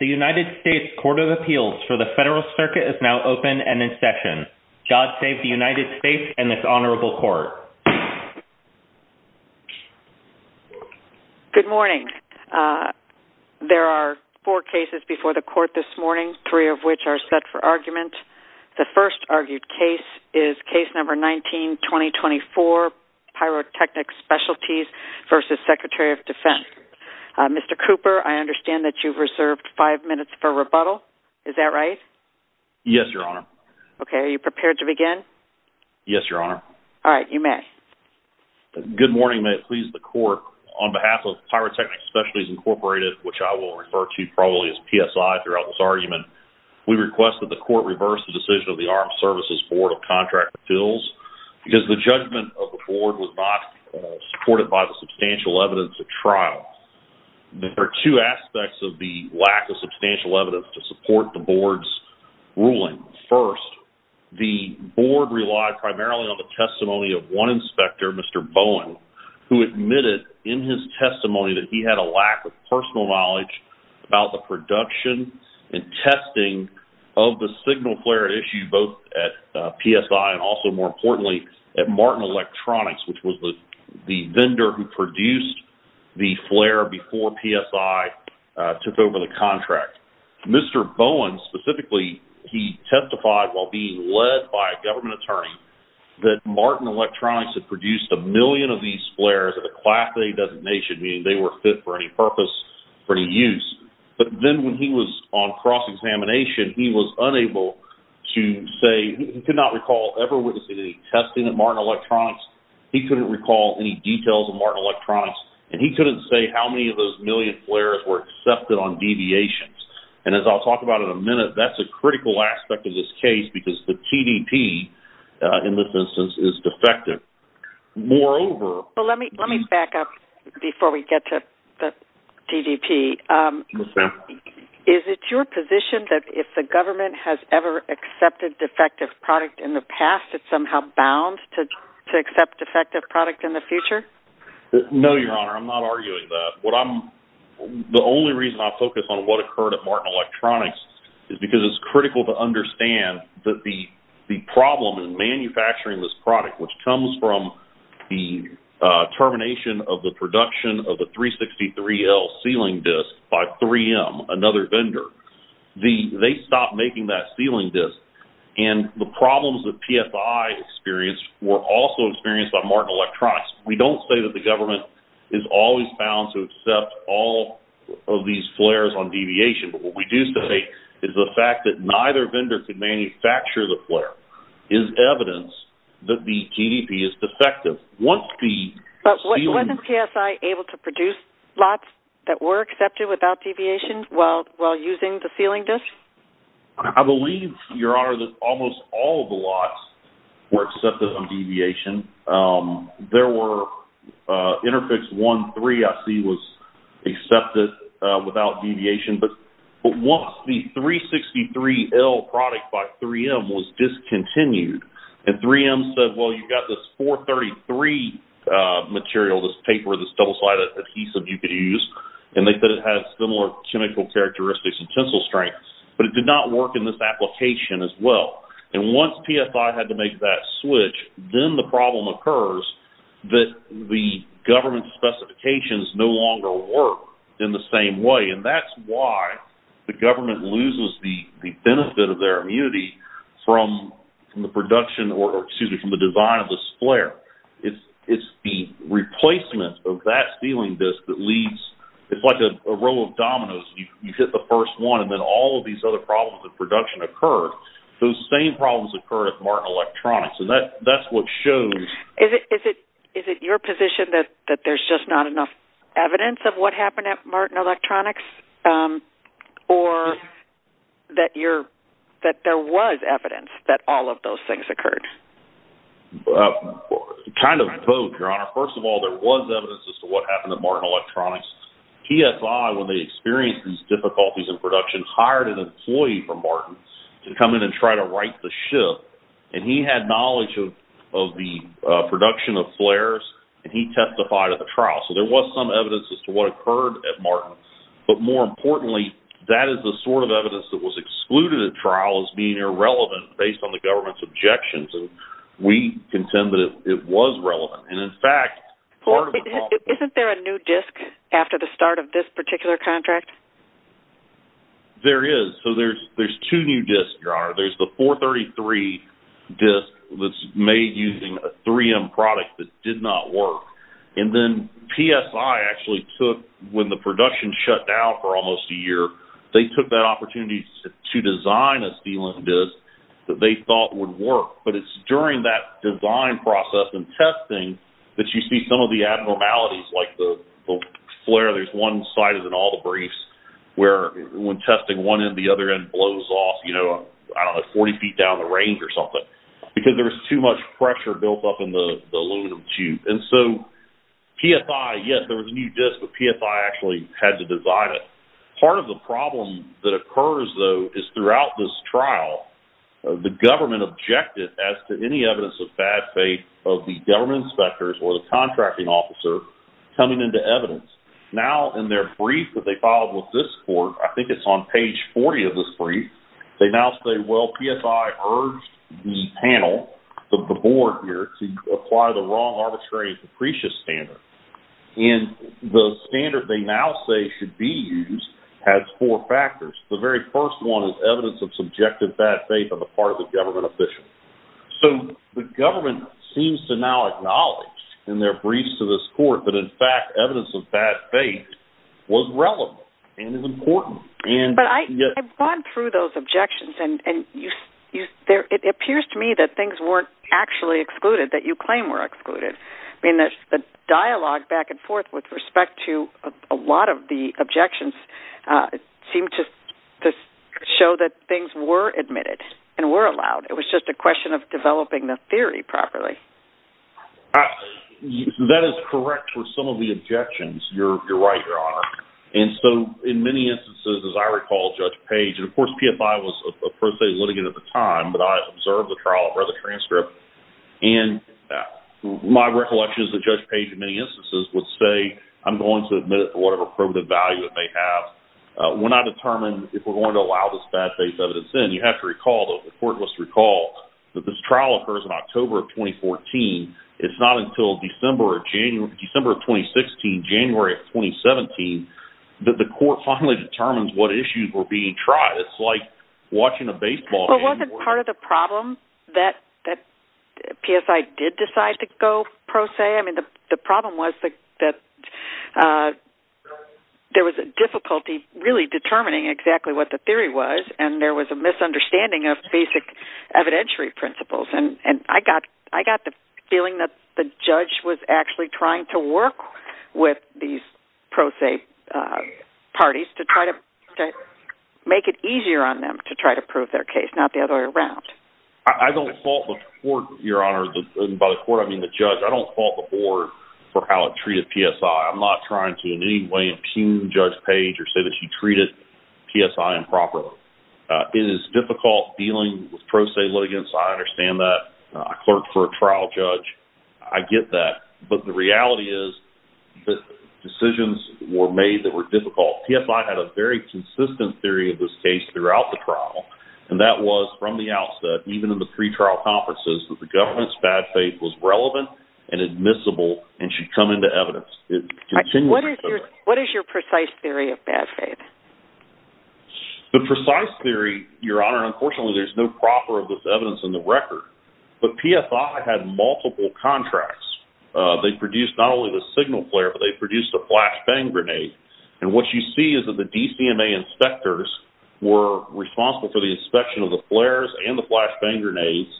The United States Court of Appeals for the Federal Circuit is now open and in session. God save the United States and this Honorable Court. Good morning. There are four cases before the Court this morning, three of which are set for argument. The first argued case is Case No. 19-2024, Pyrotechnic Specialties v. Secretary of Defense. Mr. Cooper, I understand that you've reserved five minutes for rebuttal. Is that right? Yes, Your Honor. Okay. Are you prepared to begin? Yes, Your Honor. All right. You may. Good morning. May it please the Court, on behalf of Pyrotechnic Specialties, Inc., which I will refer to probably as PSI throughout this argument, we request that the Court reverse the decision of the Armed Services Board of Contracting Appeals because the judgment of the Board was not supported by the substantial evidence at trial. There are two aspects of the lack of substantial evidence to support the Board's ruling. First, the Board relied primarily on the testimony of one inspector, Mr. Bowen, who admitted in his testimony that he had a lack of personal knowledge about the production and testing of the signal flare at issue both at PSI and also, more importantly, at Martin Electronics, which was the vendor who produced the flare before PSI took over the contract. Mr. Bowen, specifically, he testified while being led by a government attorney that Martin Electronics had produced a million of these flares at a Class A designation, meaning they were fit for any purpose, for any use. But then when he was on cross-examination, he was unable to say, he could not recall ever witnessing any testing at Martin Electronics, he couldn't recall any details of Martin Electronics, and he couldn't say how many of those million flares were accepted on deviations. And as I'll talk about in a minute, that's a critical aspect of this case because the TDP, in this instance, is defective. Let me back up before we get to the TDP. Is it your position that if the government has ever accepted defective product in the past, it's somehow bound to accept defective product in the future? No, Your Honor, I'm not arguing that. The only reason I focus on what occurred at Martin Electronics is because it's critical to understand that the problem in manufacturing this product, which comes from the termination of the production of the 363L sealing disc by 3M, another vendor, they stopped making that sealing disc, and the problems that PSI experienced were also experienced by Martin Electronics. We don't say that the government is always bound to accept all of these flares on deviation, but what we do say is the fact that neither vendor could manufacture the flare is evidence that the TDP is defective. But wasn't PSI able to produce lots that were accepted without deviation while using the sealing disc? I believe, Your Honor, that almost all of the lots were accepted on deviation. There were Interfix 1.3, I see, was accepted without deviation. But once the 363L product by 3M was discontinued, and 3M said, well, you've got this 433 material, this paper, this double-sided adhesive you could use, and they said it has similar chemical characteristics and tensile strength, but it did not work in this application as well. And once PSI had to make that switch, then the problem occurs that the government's specifications no longer work in the same way, and that's why the government loses the benefit of their immunity from the production, or excuse me, from the design of this flare. It's the replacement of that sealing disc that leads, it's like a roll of dominoes. You hit the first one, and then all of these other problems of production occur. Those same problems occur at Martin Electronics, and that's what shows... Is it your position that there's just not enough evidence of what happened at Martin Electronics, or that there was evidence that all of those things occurred? Kind of both, Your Honor. First of all, there was evidence as to what happened at Martin Electronics. PSI, when they experienced these difficulties in production, hired an employee from Martin to come in and try to right the ship. And he had knowledge of the production of flares, and he testified at the trial. So there was some evidence as to what occurred at Martin. But more importantly, that is the sort of evidence that was excluded at trial as being irrelevant based on the government's objections, and we contend that it was relevant. And in fact, part of the problem... Isn't there a new disc after the start of this particular contract? There is. So there's two new discs, Your Honor. There's the 433 disc that's made using a 3M product that did not work. And then PSI actually took, when the production shut down for almost a year, they took that opportunity to design a steeling disc that they thought would work. But it's during that design process and testing that you see some of the abnormalities, like the flare, there's one side of it in all the briefs, where when testing one end, the other end blows off, you know, I don't know, 40 feet down the range or something, because there was too much pressure built up in the aluminum tube. And so PSI, yes, there was a new disc, but PSI actually had to design it. Part of the problem that occurs, though, is throughout this trial, the government objected as to any evidence of bad faith of the government inspectors or the contracting officer coming into evidence. Now, in their brief that they filed with this court, I think it's on page 40 of this brief, they now say, well, PSI urged the panel, the board here, to apply the wrong arbitrary and capricious standard. And the standard they now say should be used has four factors. The very first one is evidence of subjective bad faith on the part of the government official. So the government seems to now acknowledge in their briefs to this court that, in fact, evidence of bad faith was relevant and is important. But I've gone through those objections, and it appears to me that things weren't actually excluded, that you claim were excluded. I mean, the dialogue back and forth with respect to a lot of the objections seemed to show that things were admitted and were allowed. It was just a question of developing the theory properly. That is correct for some of the objections. You're right, Your Honor. And so, in many instances, as I recall, Judge Page, and, of course, PFI was a pro se litigant at the time, but I observed the trial, read the transcript, and my recollection is that Judge Page, in many instances, would say, I'm going to admit it for whatever probative value it may have. When I determine if we're going to allow this bad faith evidence in, you have to recall, the court must recall, that this trial occurs in October of 2014. It's not until December of 2016, January of 2017, that the court finally determines what issues were being tried. It's like watching a baseball game. But wasn't part of the problem that PSI did decide to go pro se? I mean, the problem was that there was a difficulty really determining exactly what the theory was, and there was a misunderstanding of basic evidentiary principles. And I got the feeling that the judge was actually trying to work with these pro se parties to try to make it easier on them to try to prove their case, not the other way around. I don't fault the court, Your Honor. And by the court, I mean the judge. I don't fault the board for how it treated PSI. I'm not trying to in any way impugn Judge Page or say that she treated PSI improperly. It is difficult dealing with pro se litigants. I understand that. I clerked for a trial judge. I get that. But the reality is that decisions were made that were difficult. PSI had a very consistent theory of this case throughout the trial, and that was from the outset, even in the pretrial conferences, that the government's bad faith was relevant and admissible and should come into evidence. What is your precise theory of bad faith? The precise theory, Your Honor, unfortunately there's no proper evidence in the record. But PSI had multiple contracts. They produced not only the signal flare, but they produced a flash bang grenade. And what you see is that the DCMA inspectors were responsible for the inspection of the flares and the flash bang grenades,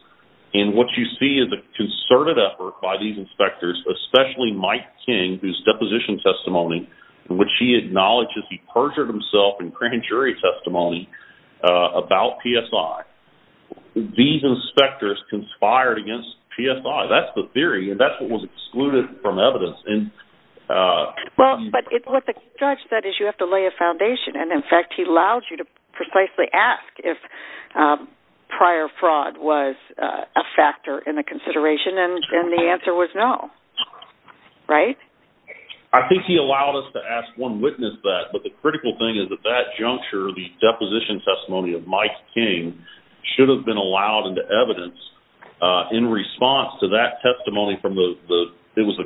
and what you see is a concerted effort by these inspectors, especially Mike King, whose deposition testimony in which he acknowledges he perjured himself in grand jury testimony about PSI. These inspectors conspired against PSI. That's the theory, and that's what was excluded from evidence. But what the judge said is you have to lay a foundation, and, in fact, he allowed you to precisely ask if prior fraud was a factor in the consideration, and the answer was no, right? I think he allowed us to ask one witness that, but the critical thing is that that juncture, the deposition testimony of Mike King, should have been allowed into evidence in response to that testimony from the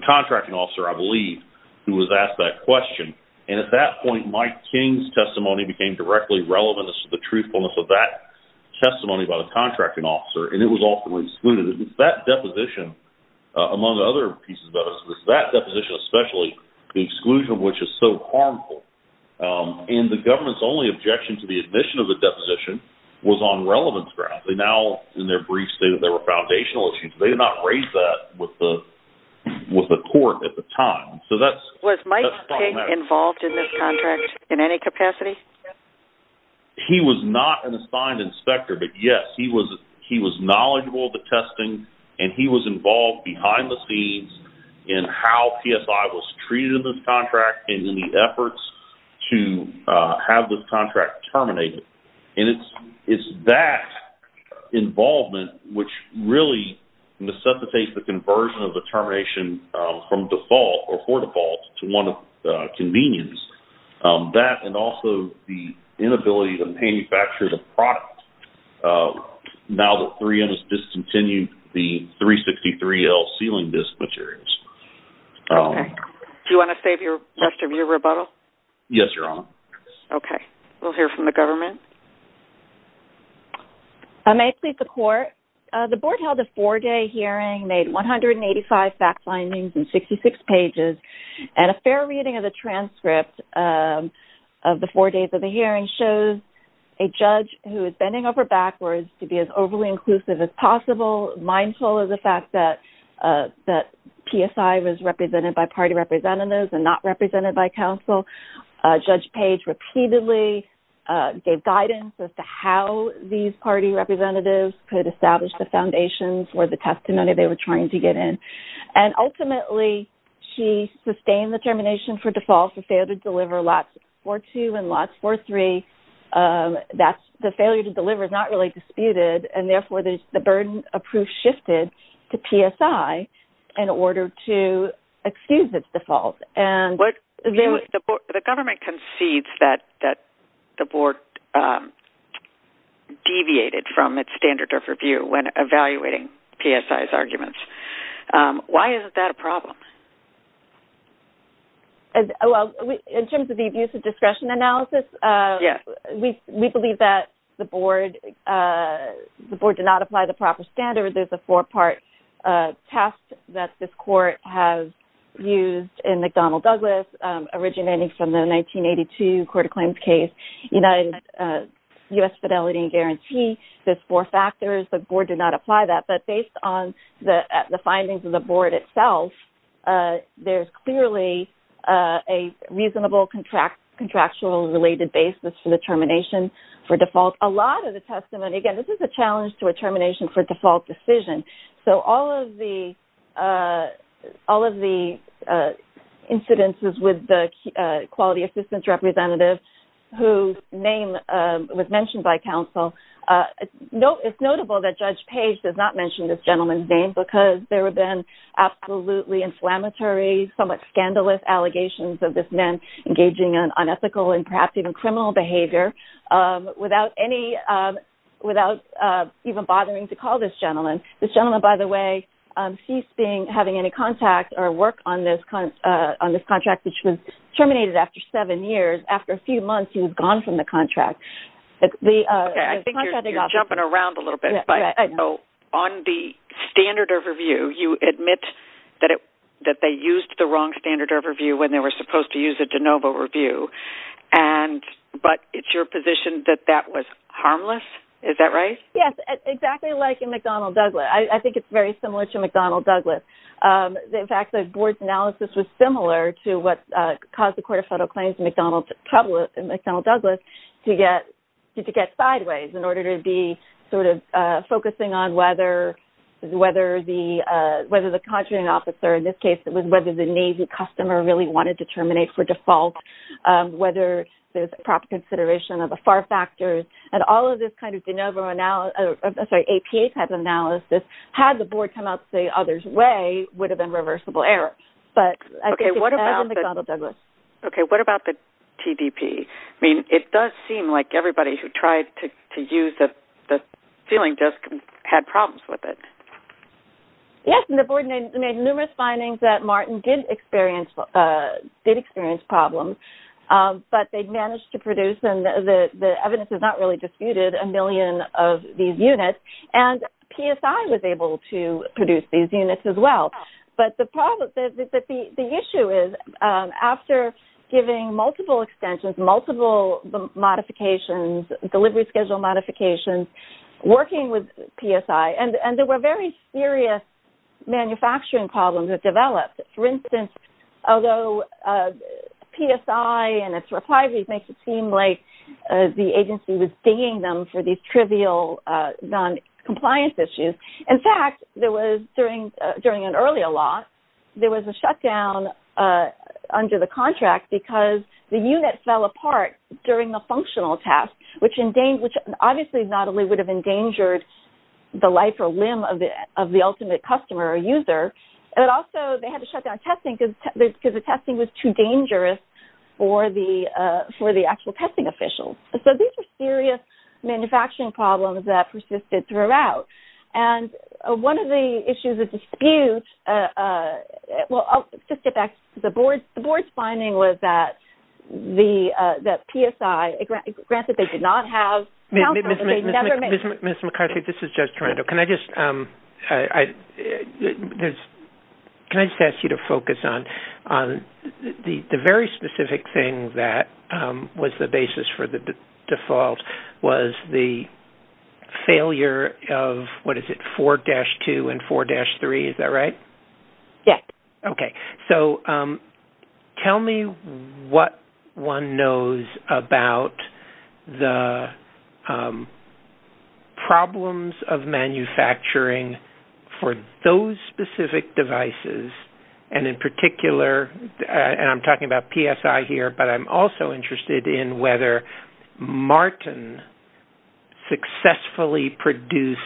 contracting officer, I believe, who was asked that question. And at that point, Mike King's testimony became directly relevant to the truthfulness of that testimony by the contracting officer, and it was ultimately excluded. That deposition, among other pieces of evidence, was that deposition especially, the exclusion of which is so harmful. And the government's only objection to the admission of the deposition was on relevance grounds. They now, in their brief statement, there were foundational issues. They did not raise that with the court at the time. So that's problematic. Was Mike King involved in this contract in any capacity? He was not an assigned inspector, but, yes, he was knowledgeable of the testing, and he was involved behind the scenes in how PSI was treated in this contract and in the efforts to have this contract terminated. And it's that involvement which really necessitates the conversion of the termination from default or for default to one of convenience, that and also the inability to manufacture the product now that 3M has discontinued the 363L sealing disk materials. Okay. Do you want to save the rest of your rebuttal? Yes, Your Honor. Okay. We'll hear from the government. I may plead the court. The board held a four-day hearing, made 185 fact findings and 66 pages, and a fair reading of the transcript of the four days of the hearing shows a judge who is bending over backwards to be as overly inclusive as possible, mindful of the fact that PSI was represented by party representatives and not represented by counsel. Judge Page repeatedly gave guidance as to how these party representatives could establish the foundations or the testimony they were trying to get in. And, ultimately, she sustained the termination for default and failed to deliver lots 4-2 and lots 4-3. The failure to deliver is not really disputed, and, therefore, the burden of proof shifted to PSI in order to excuse its default. The government concedes that the board deviated from its standard of review when evaluating PSI's arguments. Why isn't that a problem? In terms of the abuse of discretion analysis, we believe that the board did not apply the proper standard. There's a four-part test that this court has used in McDonnell Douglas, originating from the 1982 court of claims case, United States Fidelity and Guarantee. There's four factors. The board did not apply that. But based on the findings of the board itself, there's clearly a reasonable contractual related basis for the termination for default. Again, this is a challenge to a termination for default decision. So all of the incidences with the quality assistance representative, whose name was mentioned by counsel, it's notable that Judge Page does not mention this gentleman's name because there have been absolutely inflammatory, somewhat scandalous allegations of this man engaging in unethical and perhaps even criminal behavior without even bothering to call this gentleman. This gentleman, by the way, ceased having any contact or work on this contract, which was terminated after seven years. After a few months, he was gone from the contract. I think you're jumping around a little bit. On the standard of review, you admit that they used the wrong standard of review when they were supposed to use a de novo review. But it's your position that that was harmless? Is that right? Yes, exactly like in McDonnell-Douglas. I think it's very similar to McDonnell-Douglas. In fact, the board's analysis was similar to what caused the Court of Federal Claims in McDonnell-Douglas to get sideways in order to be sort of focusing on whether the contracting officer, in this case it was whether the Navy customer really wanted to terminate for default, whether there's a proper consideration of the FAR factors, and all of this kind of APA type analysis, had the board come out the other's way, would have been reversible error. But I think it's better than McDonnell-Douglas. Okay, what about the TDP? I mean, it does seem like everybody who tried to use the ceiling desk had problems with it. Yes, and the board made numerous findings that Martin did experience problems, but they managed to produce, and the evidence is not really disputed, a million of these units, and PSI was able to produce these units as well. But the issue is, after giving multiple extensions, multiple modifications, delivery schedule modifications, working with PSI, and there were very serious manufacturing problems that developed. For instance, although PSI and its reprises makes it seem like the agency was digging them for these trivial noncompliance issues. In fact, there was, during an earlier lot, there was a shutdown under the contract because the unit fell apart during the functional test, which obviously not only would have endangered the life or limb of the ultimate customer or user, but also they had to shut down testing because the testing was too dangerous for the actual testing officials. So these were serious manufacturing problems that persisted throughout. And one of the issues of dispute, well, I'll just get back to the board. My first finding was that PSI, granted they did not have counsel, but they never made... Ms. McCarthy, this is Judge Toronto. Can I just ask you to focus on the very specific thing that was the basis for the default was the failure of, what is it, 4-2 and 4-3, is that right? Yes. Okay. So tell me what one knows about the problems of manufacturing for those specific devices and in particular, and I'm talking about PSI here, but I'm also interested in whether Martin successfully produced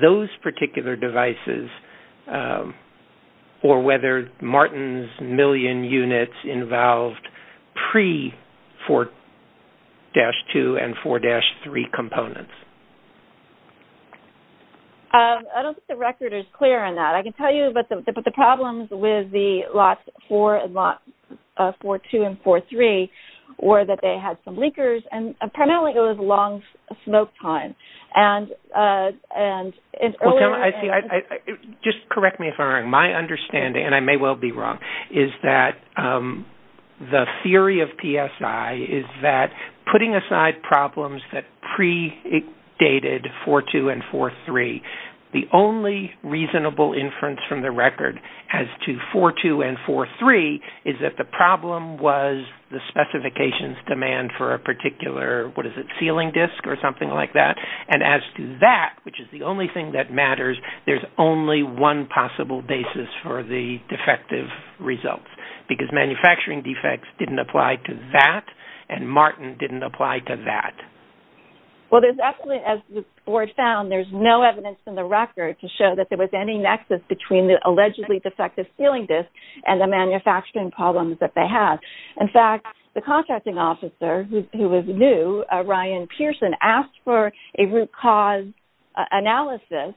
those particular devices or whether Martin's million units involved pre-4-2 and 4-3 components. I don't think the record is clear on that. I can tell you, but the problems with the lot 4 and lot 4-2 and 4-3 were that they had some leakers and primarily it was long smoke time. Just correct me if I'm wrong. My understanding, and I may well be wrong, is that the theory of PSI is that putting aside problems that predated 4-2 and 4-3, the only reasonable inference from the record as to 4-2 and 4-3 is that the problem was the specifications demand for a particular, what is it, sealing disk or something like that, and as to that, which is the only thing that matters, there's only one possible basis for the defective results because manufacturing defects didn't apply to that and Martin didn't apply to that. Well, as the board found, there's no evidence in the record to show that there was any nexus between the allegedly defective sealing disk and the manufacturing problems that they had. In fact, the contracting officer who was new, Ryan Pearson, asked for a root cause analysis,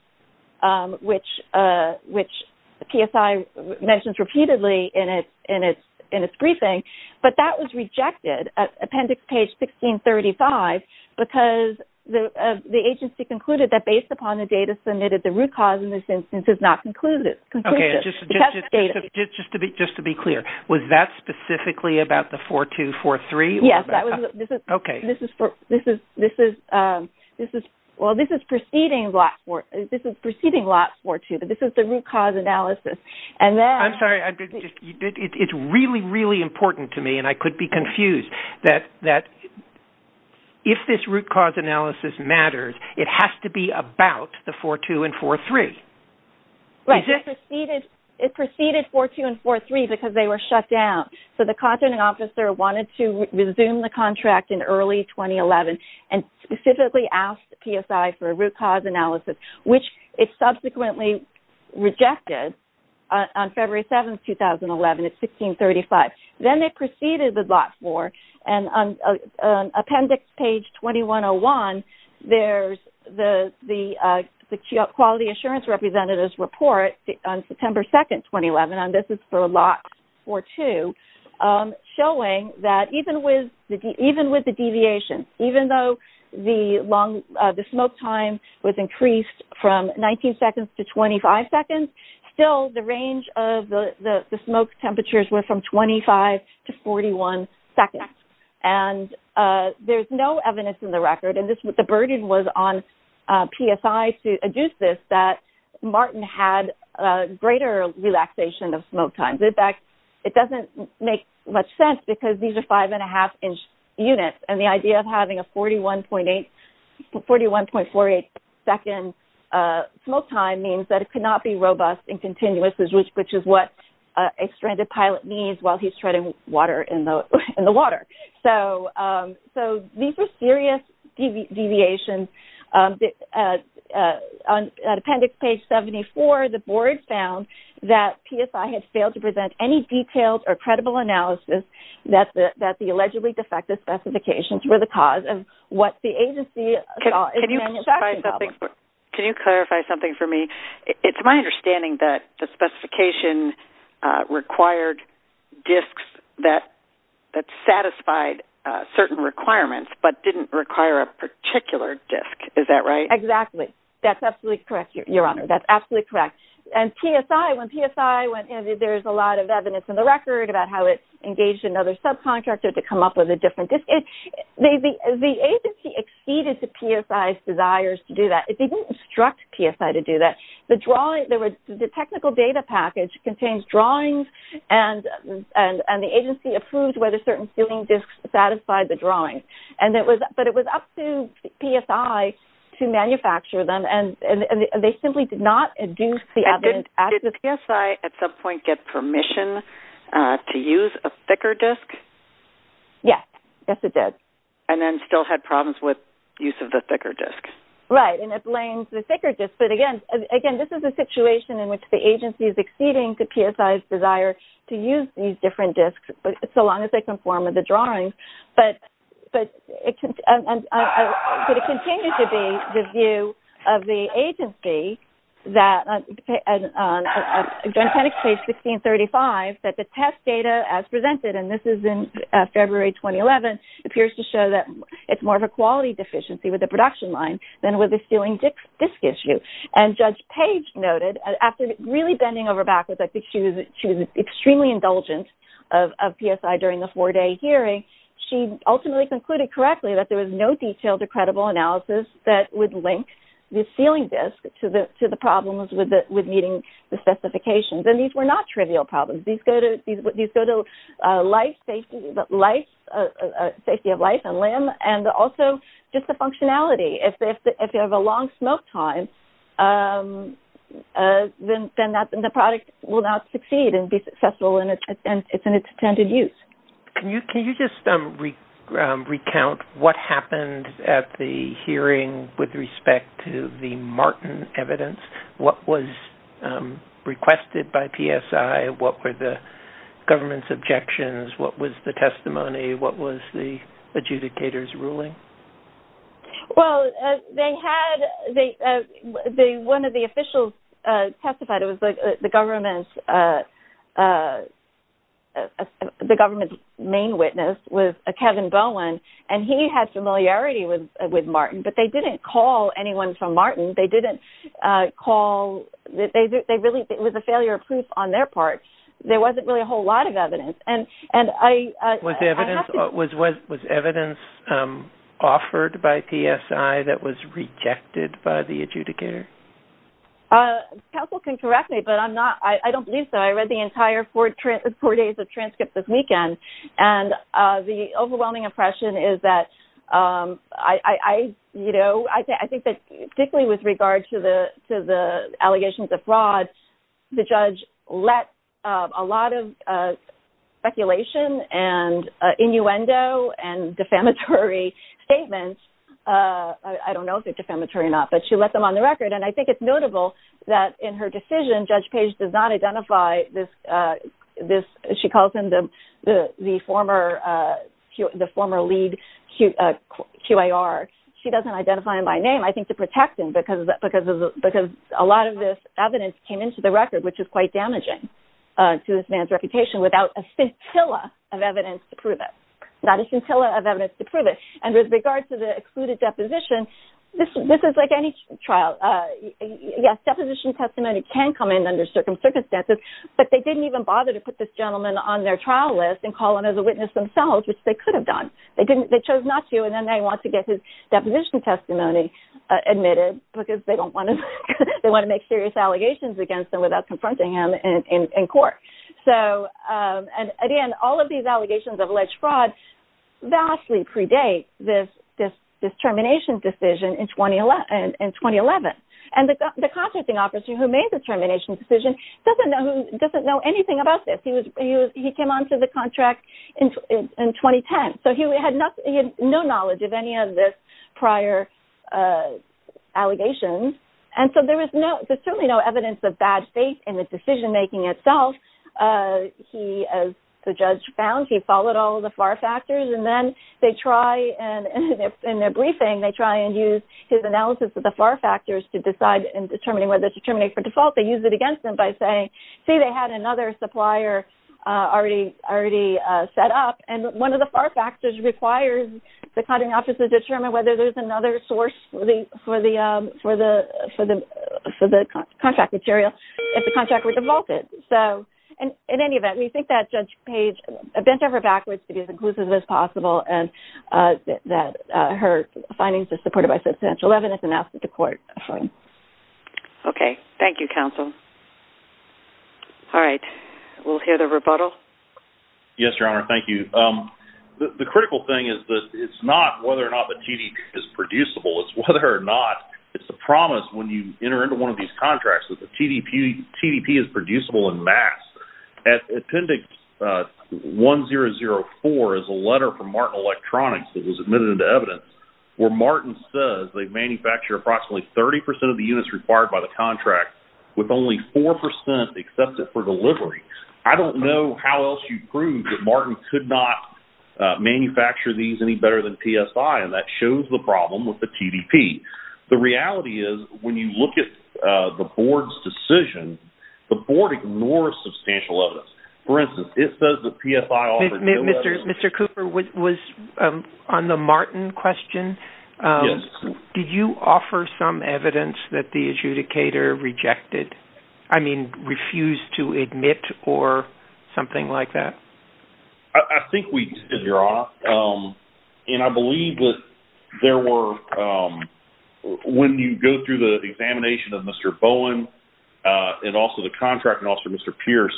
which PSI mentions repeatedly in its briefing, but that was rejected at appendix page 1635 because the agency concluded that based upon the data submitted, the root cause in this instance is not conclusive. Just to be clear, was that specifically about the 4-2, 4-3? Yes, this is preceding lot 4-2, but this is the root cause analysis. I'm sorry, it's really, really important to me, and I could be confused, that if this root cause analysis matters, it has to be about the 4-2 and 4-3. Right, it preceded 4-2 and 4-3 because they were shut down. So the contracting officer wanted to resume the contract in early 2011 and specifically asked PSI for a root cause analysis, which it subsequently rejected on February 7, 2011 at 1635. Then they proceeded with lot 4, and on appendix page 2101, there's the quality assurance representative's report on September 2, 2011, and this is for lot 4-2, showing that even with the deviation, even though the smoke time was increased from 19 seconds to 25 seconds, still the range of the smoke temperatures were from 25 to 41 seconds. There's no evidence in the record, and the burden was on PSI to adduce this, that Martin had greater relaxation of smoke times. In fact, it doesn't make much sense because these are 5.5-inch units, and the idea of having a 41.48-second smoke time means that it could not be robust and continuous, which is what a stranded pilot needs while he's treading water in the water. So these are serious deviations. On appendix page 74, the board found that PSI had failed to present any detailed or credible analysis that the allegedly defective specifications were the cause of what the agency saw as a manufacturing problem. Can you clarify something for me? It's my understanding that the specification required disks that satisfied certain requirements but didn't require a particular disk. Is that right? Exactly. That's absolutely correct, Your Honor. That's absolutely correct. And PSI, when PSI went in, there's a lot of evidence in the record about how it engaged another subcontractor to come up with a different disk. The agency exceeded the PSI's desires to do that. It didn't instruct PSI to do that. The technical data package contains drawings, and the agency approved whether certain ceiling disks satisfied the drawings. But it was up to PSI to manufacture them, and they simply did not induce the evidence. Did PSI at some point get permission to use a thicker disk? Yes. Yes, it did. And then still had problems with use of the thicker disk? Right. And it blames the thicker disk. But, again, this is a situation in which the agency is exceeding the PSI's desire to use these different disks, so long as they conform with the drawings. But it continues to be the view of the agency that, on Genentech page 1635, that the test data as presented, and this is in February 2011, appears to show that it's more of a quality deficiency with the production line than with the ceiling disk issue. And Judge Page noted, after really bending over backwards, I think she was extremely indulgent of PSI during the four-day hearing, she ultimately concluded correctly that there was no detailed or credible analysis that would link the ceiling disk to the problems with meeting the specifications. And these were not trivial problems. These go to safety of life and limb and also just the functionality. If you have a long smoke time, then the product will not succeed and be successful in its intended use. Can you just recount what happened at the hearing with respect to the Martin evidence? What was requested by PSI? What were the government's objections? What was the testimony? What was the adjudicator's ruling? Well, one of the officials testified. It was the government's main witness was Kevin Bowen, and he had familiarity with Martin. But they didn't call anyone from Martin. It was a failure of proof on their part. There wasn't really a whole lot of evidence. Was evidence offered by PSI that was rejected by the adjudicator? Counsel can correct me, but I don't believe so. I read the entire four days of transcripts this weekend, and the overwhelming impression is that I think that particularly with regard to the allegations of fraud, the judge let a lot of speculation and innuendo and defamatory statements. I don't know if they're defamatory or not, but she let them on the record. And I think it's notable that in her decision, Judge Page does not identify this. She calls him the former lead QIR. She doesn't identify him by name, I think, to protect him because a lot of this evidence came into the record, which is quite damaging to this man's reputation, without a scintilla of evidence to prove it. Not a scintilla of evidence to prove it. And with regard to the excluded deposition, this is like any trial. Yes, deposition testimony can come in under certain circumstances, but they didn't even bother to put this gentleman on their trial list and call him as a witness themselves, which they could have done. They chose not to, and then they want to get his deposition testimony admitted because they want to make serious allegations against him without confronting him in court. And again, all of these allegations of alleged fraud vastly predate this termination decision in 2011. And the contracting officer who made the termination decision doesn't know anything about this. He came onto the contract in 2010, so he had no knowledge of any of the prior allegations. And so there's certainly no evidence of bad faith in the decision-making itself. He, as the judge found, he followed all of the FAR factors, and then they try, in their briefing, they try and use his analysis of the FAR factors to decide in determining whether to terminate for default. They use it against him by saying, see, they had another supplier already set up, and one of the FAR factors requires the contracting officer to determine whether there's another source for the contract material if the contract were defaulted. So in any event, we think that Judge Page bent over backwards to be as inclusive as possible and that her findings are supported by substantial evidence and asked it to court. Okay. Thank you, counsel. All right. We'll hear the rebuttal. Yes, Your Honor. Thank you. The critical thing is that it's not whether or not the TDP is producible. It's whether or not it's a promise when you enter into one of these contracts that the TDP is producible en masse. At appendix 1004 is a letter from Martin Electronics that was admitted into evidence where Martin says they manufacture approximately 30% of the units required by the contract with only 4% accepted for delivery. I don't know how else you'd prove that Martin could not manufacture these any better than PSI, and that shows the problem with the TDP. The reality is when you look at the board's decision, the board ignores substantial evidence. For instance, it says that PSI offers no evidence. Mr. Cooper, on the Martin question, did you offer some evidence that the adjudicator rejected, I mean refused to admit or something like that? I think we did, Your Honor, and I believe that there were, when you go through the examination of Mr. Bowen and also the contracting officer, Mr. Pierce,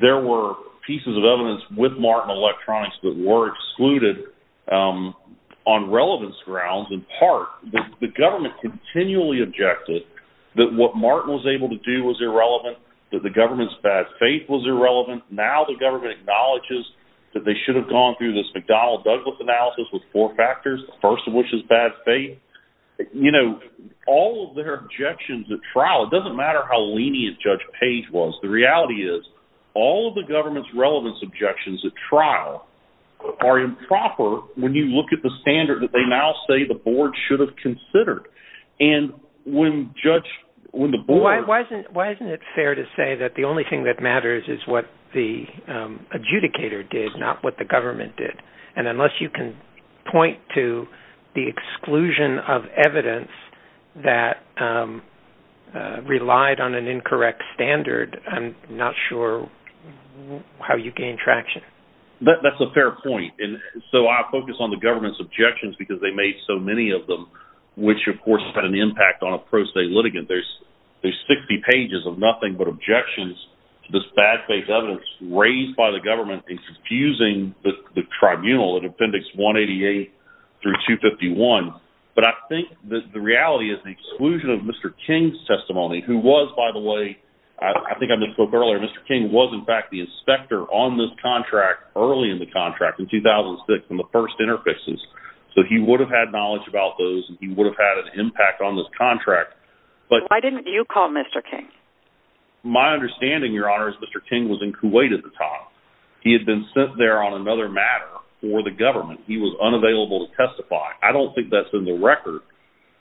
there were pieces of evidence with Martin Electronics that were excluded on relevance grounds in part. The government continually objected that what Martin was able to do was irrelevant, that the government's bad faith was irrelevant. Now the government acknowledges that they should have gone through this McDonnell-Douglas analysis with four factors, the first of which is bad faith. You know, all of their objections at trial, it doesn't matter how lenient Judge Page was, the reality is all of the government's relevance objections at trial are improper when you look at the standard that they now say the board should have considered. Why isn't it fair to say that the only thing that matters is what the adjudicator did, not what the government did? And unless you can point to the exclusion of evidence that relied on an incorrect standard, I'm not sure how you gain traction. That's a fair point. And so I focus on the government's objections because they made so many of them, which of course had an impact on a pro se litigant. There's 60 pages of nothing but objections to this bad faith evidence raised by the government and confusing the tribunal in Appendix 188 through 251. But I think the reality is the exclusion of Mr. King's testimony, who was, by the way, Mr. King was in fact the inspector on this contract early in the contract in 2006, in the first interfaces, so he would have had knowledge about those and he would have had an impact on this contract. Why didn't you call Mr. King? My understanding, Your Honor, is Mr. King was in Kuwait at the time. He had been sent there on another matter for the government. He was unavailable to testify. I don't think that's in the record,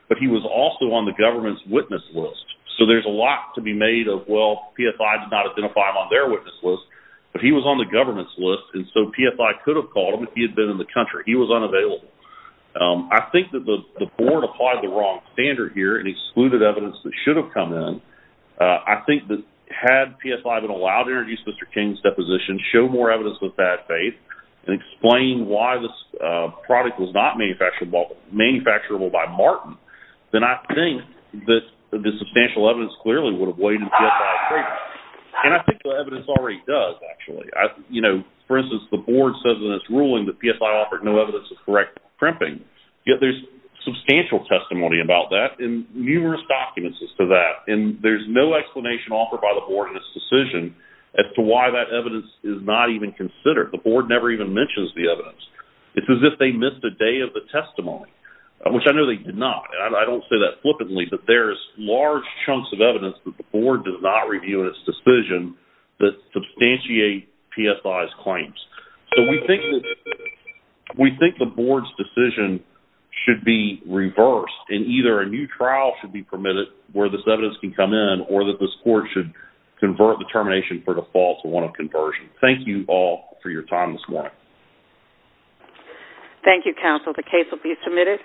but he was also on the government's witness list. So there's a lot to be made of, well, PFI did not identify him on their witness list, but he was on the government's list, and so PFI could have called him if he had been in the country. He was unavailable. I think that the board applied the wrong standard here and excluded evidence that should have come in. I think that had PFI been allowed to introduce Mr. King's deposition, show more evidence with bad faith, and explain why this product was not manufacturable by Martin, then I think that the substantial evidence clearly would have weighed in PFI's favor. And I think the evidence already does, actually. For instance, the board says in its ruling that PFI offered no evidence of correct crimping. Yet there's substantial testimony about that and numerous documents as to that, and there's no explanation offered by the board in its decision as to why that evidence is not even considered. The board never even mentions the evidence. It's as if they missed a day of the testimony, which I know they did not. I don't say that flippantly, but there's large chunks of evidence that the board does not review in its decision that substantiate PFI's claims. So we think the board's decision should be reversed, and either a new trial should be permitted where this evidence can come in, or that this court should convert the termination for default to one of conversion. Thank you all for your time this morning. Thank you, counsel. The case will be submitted.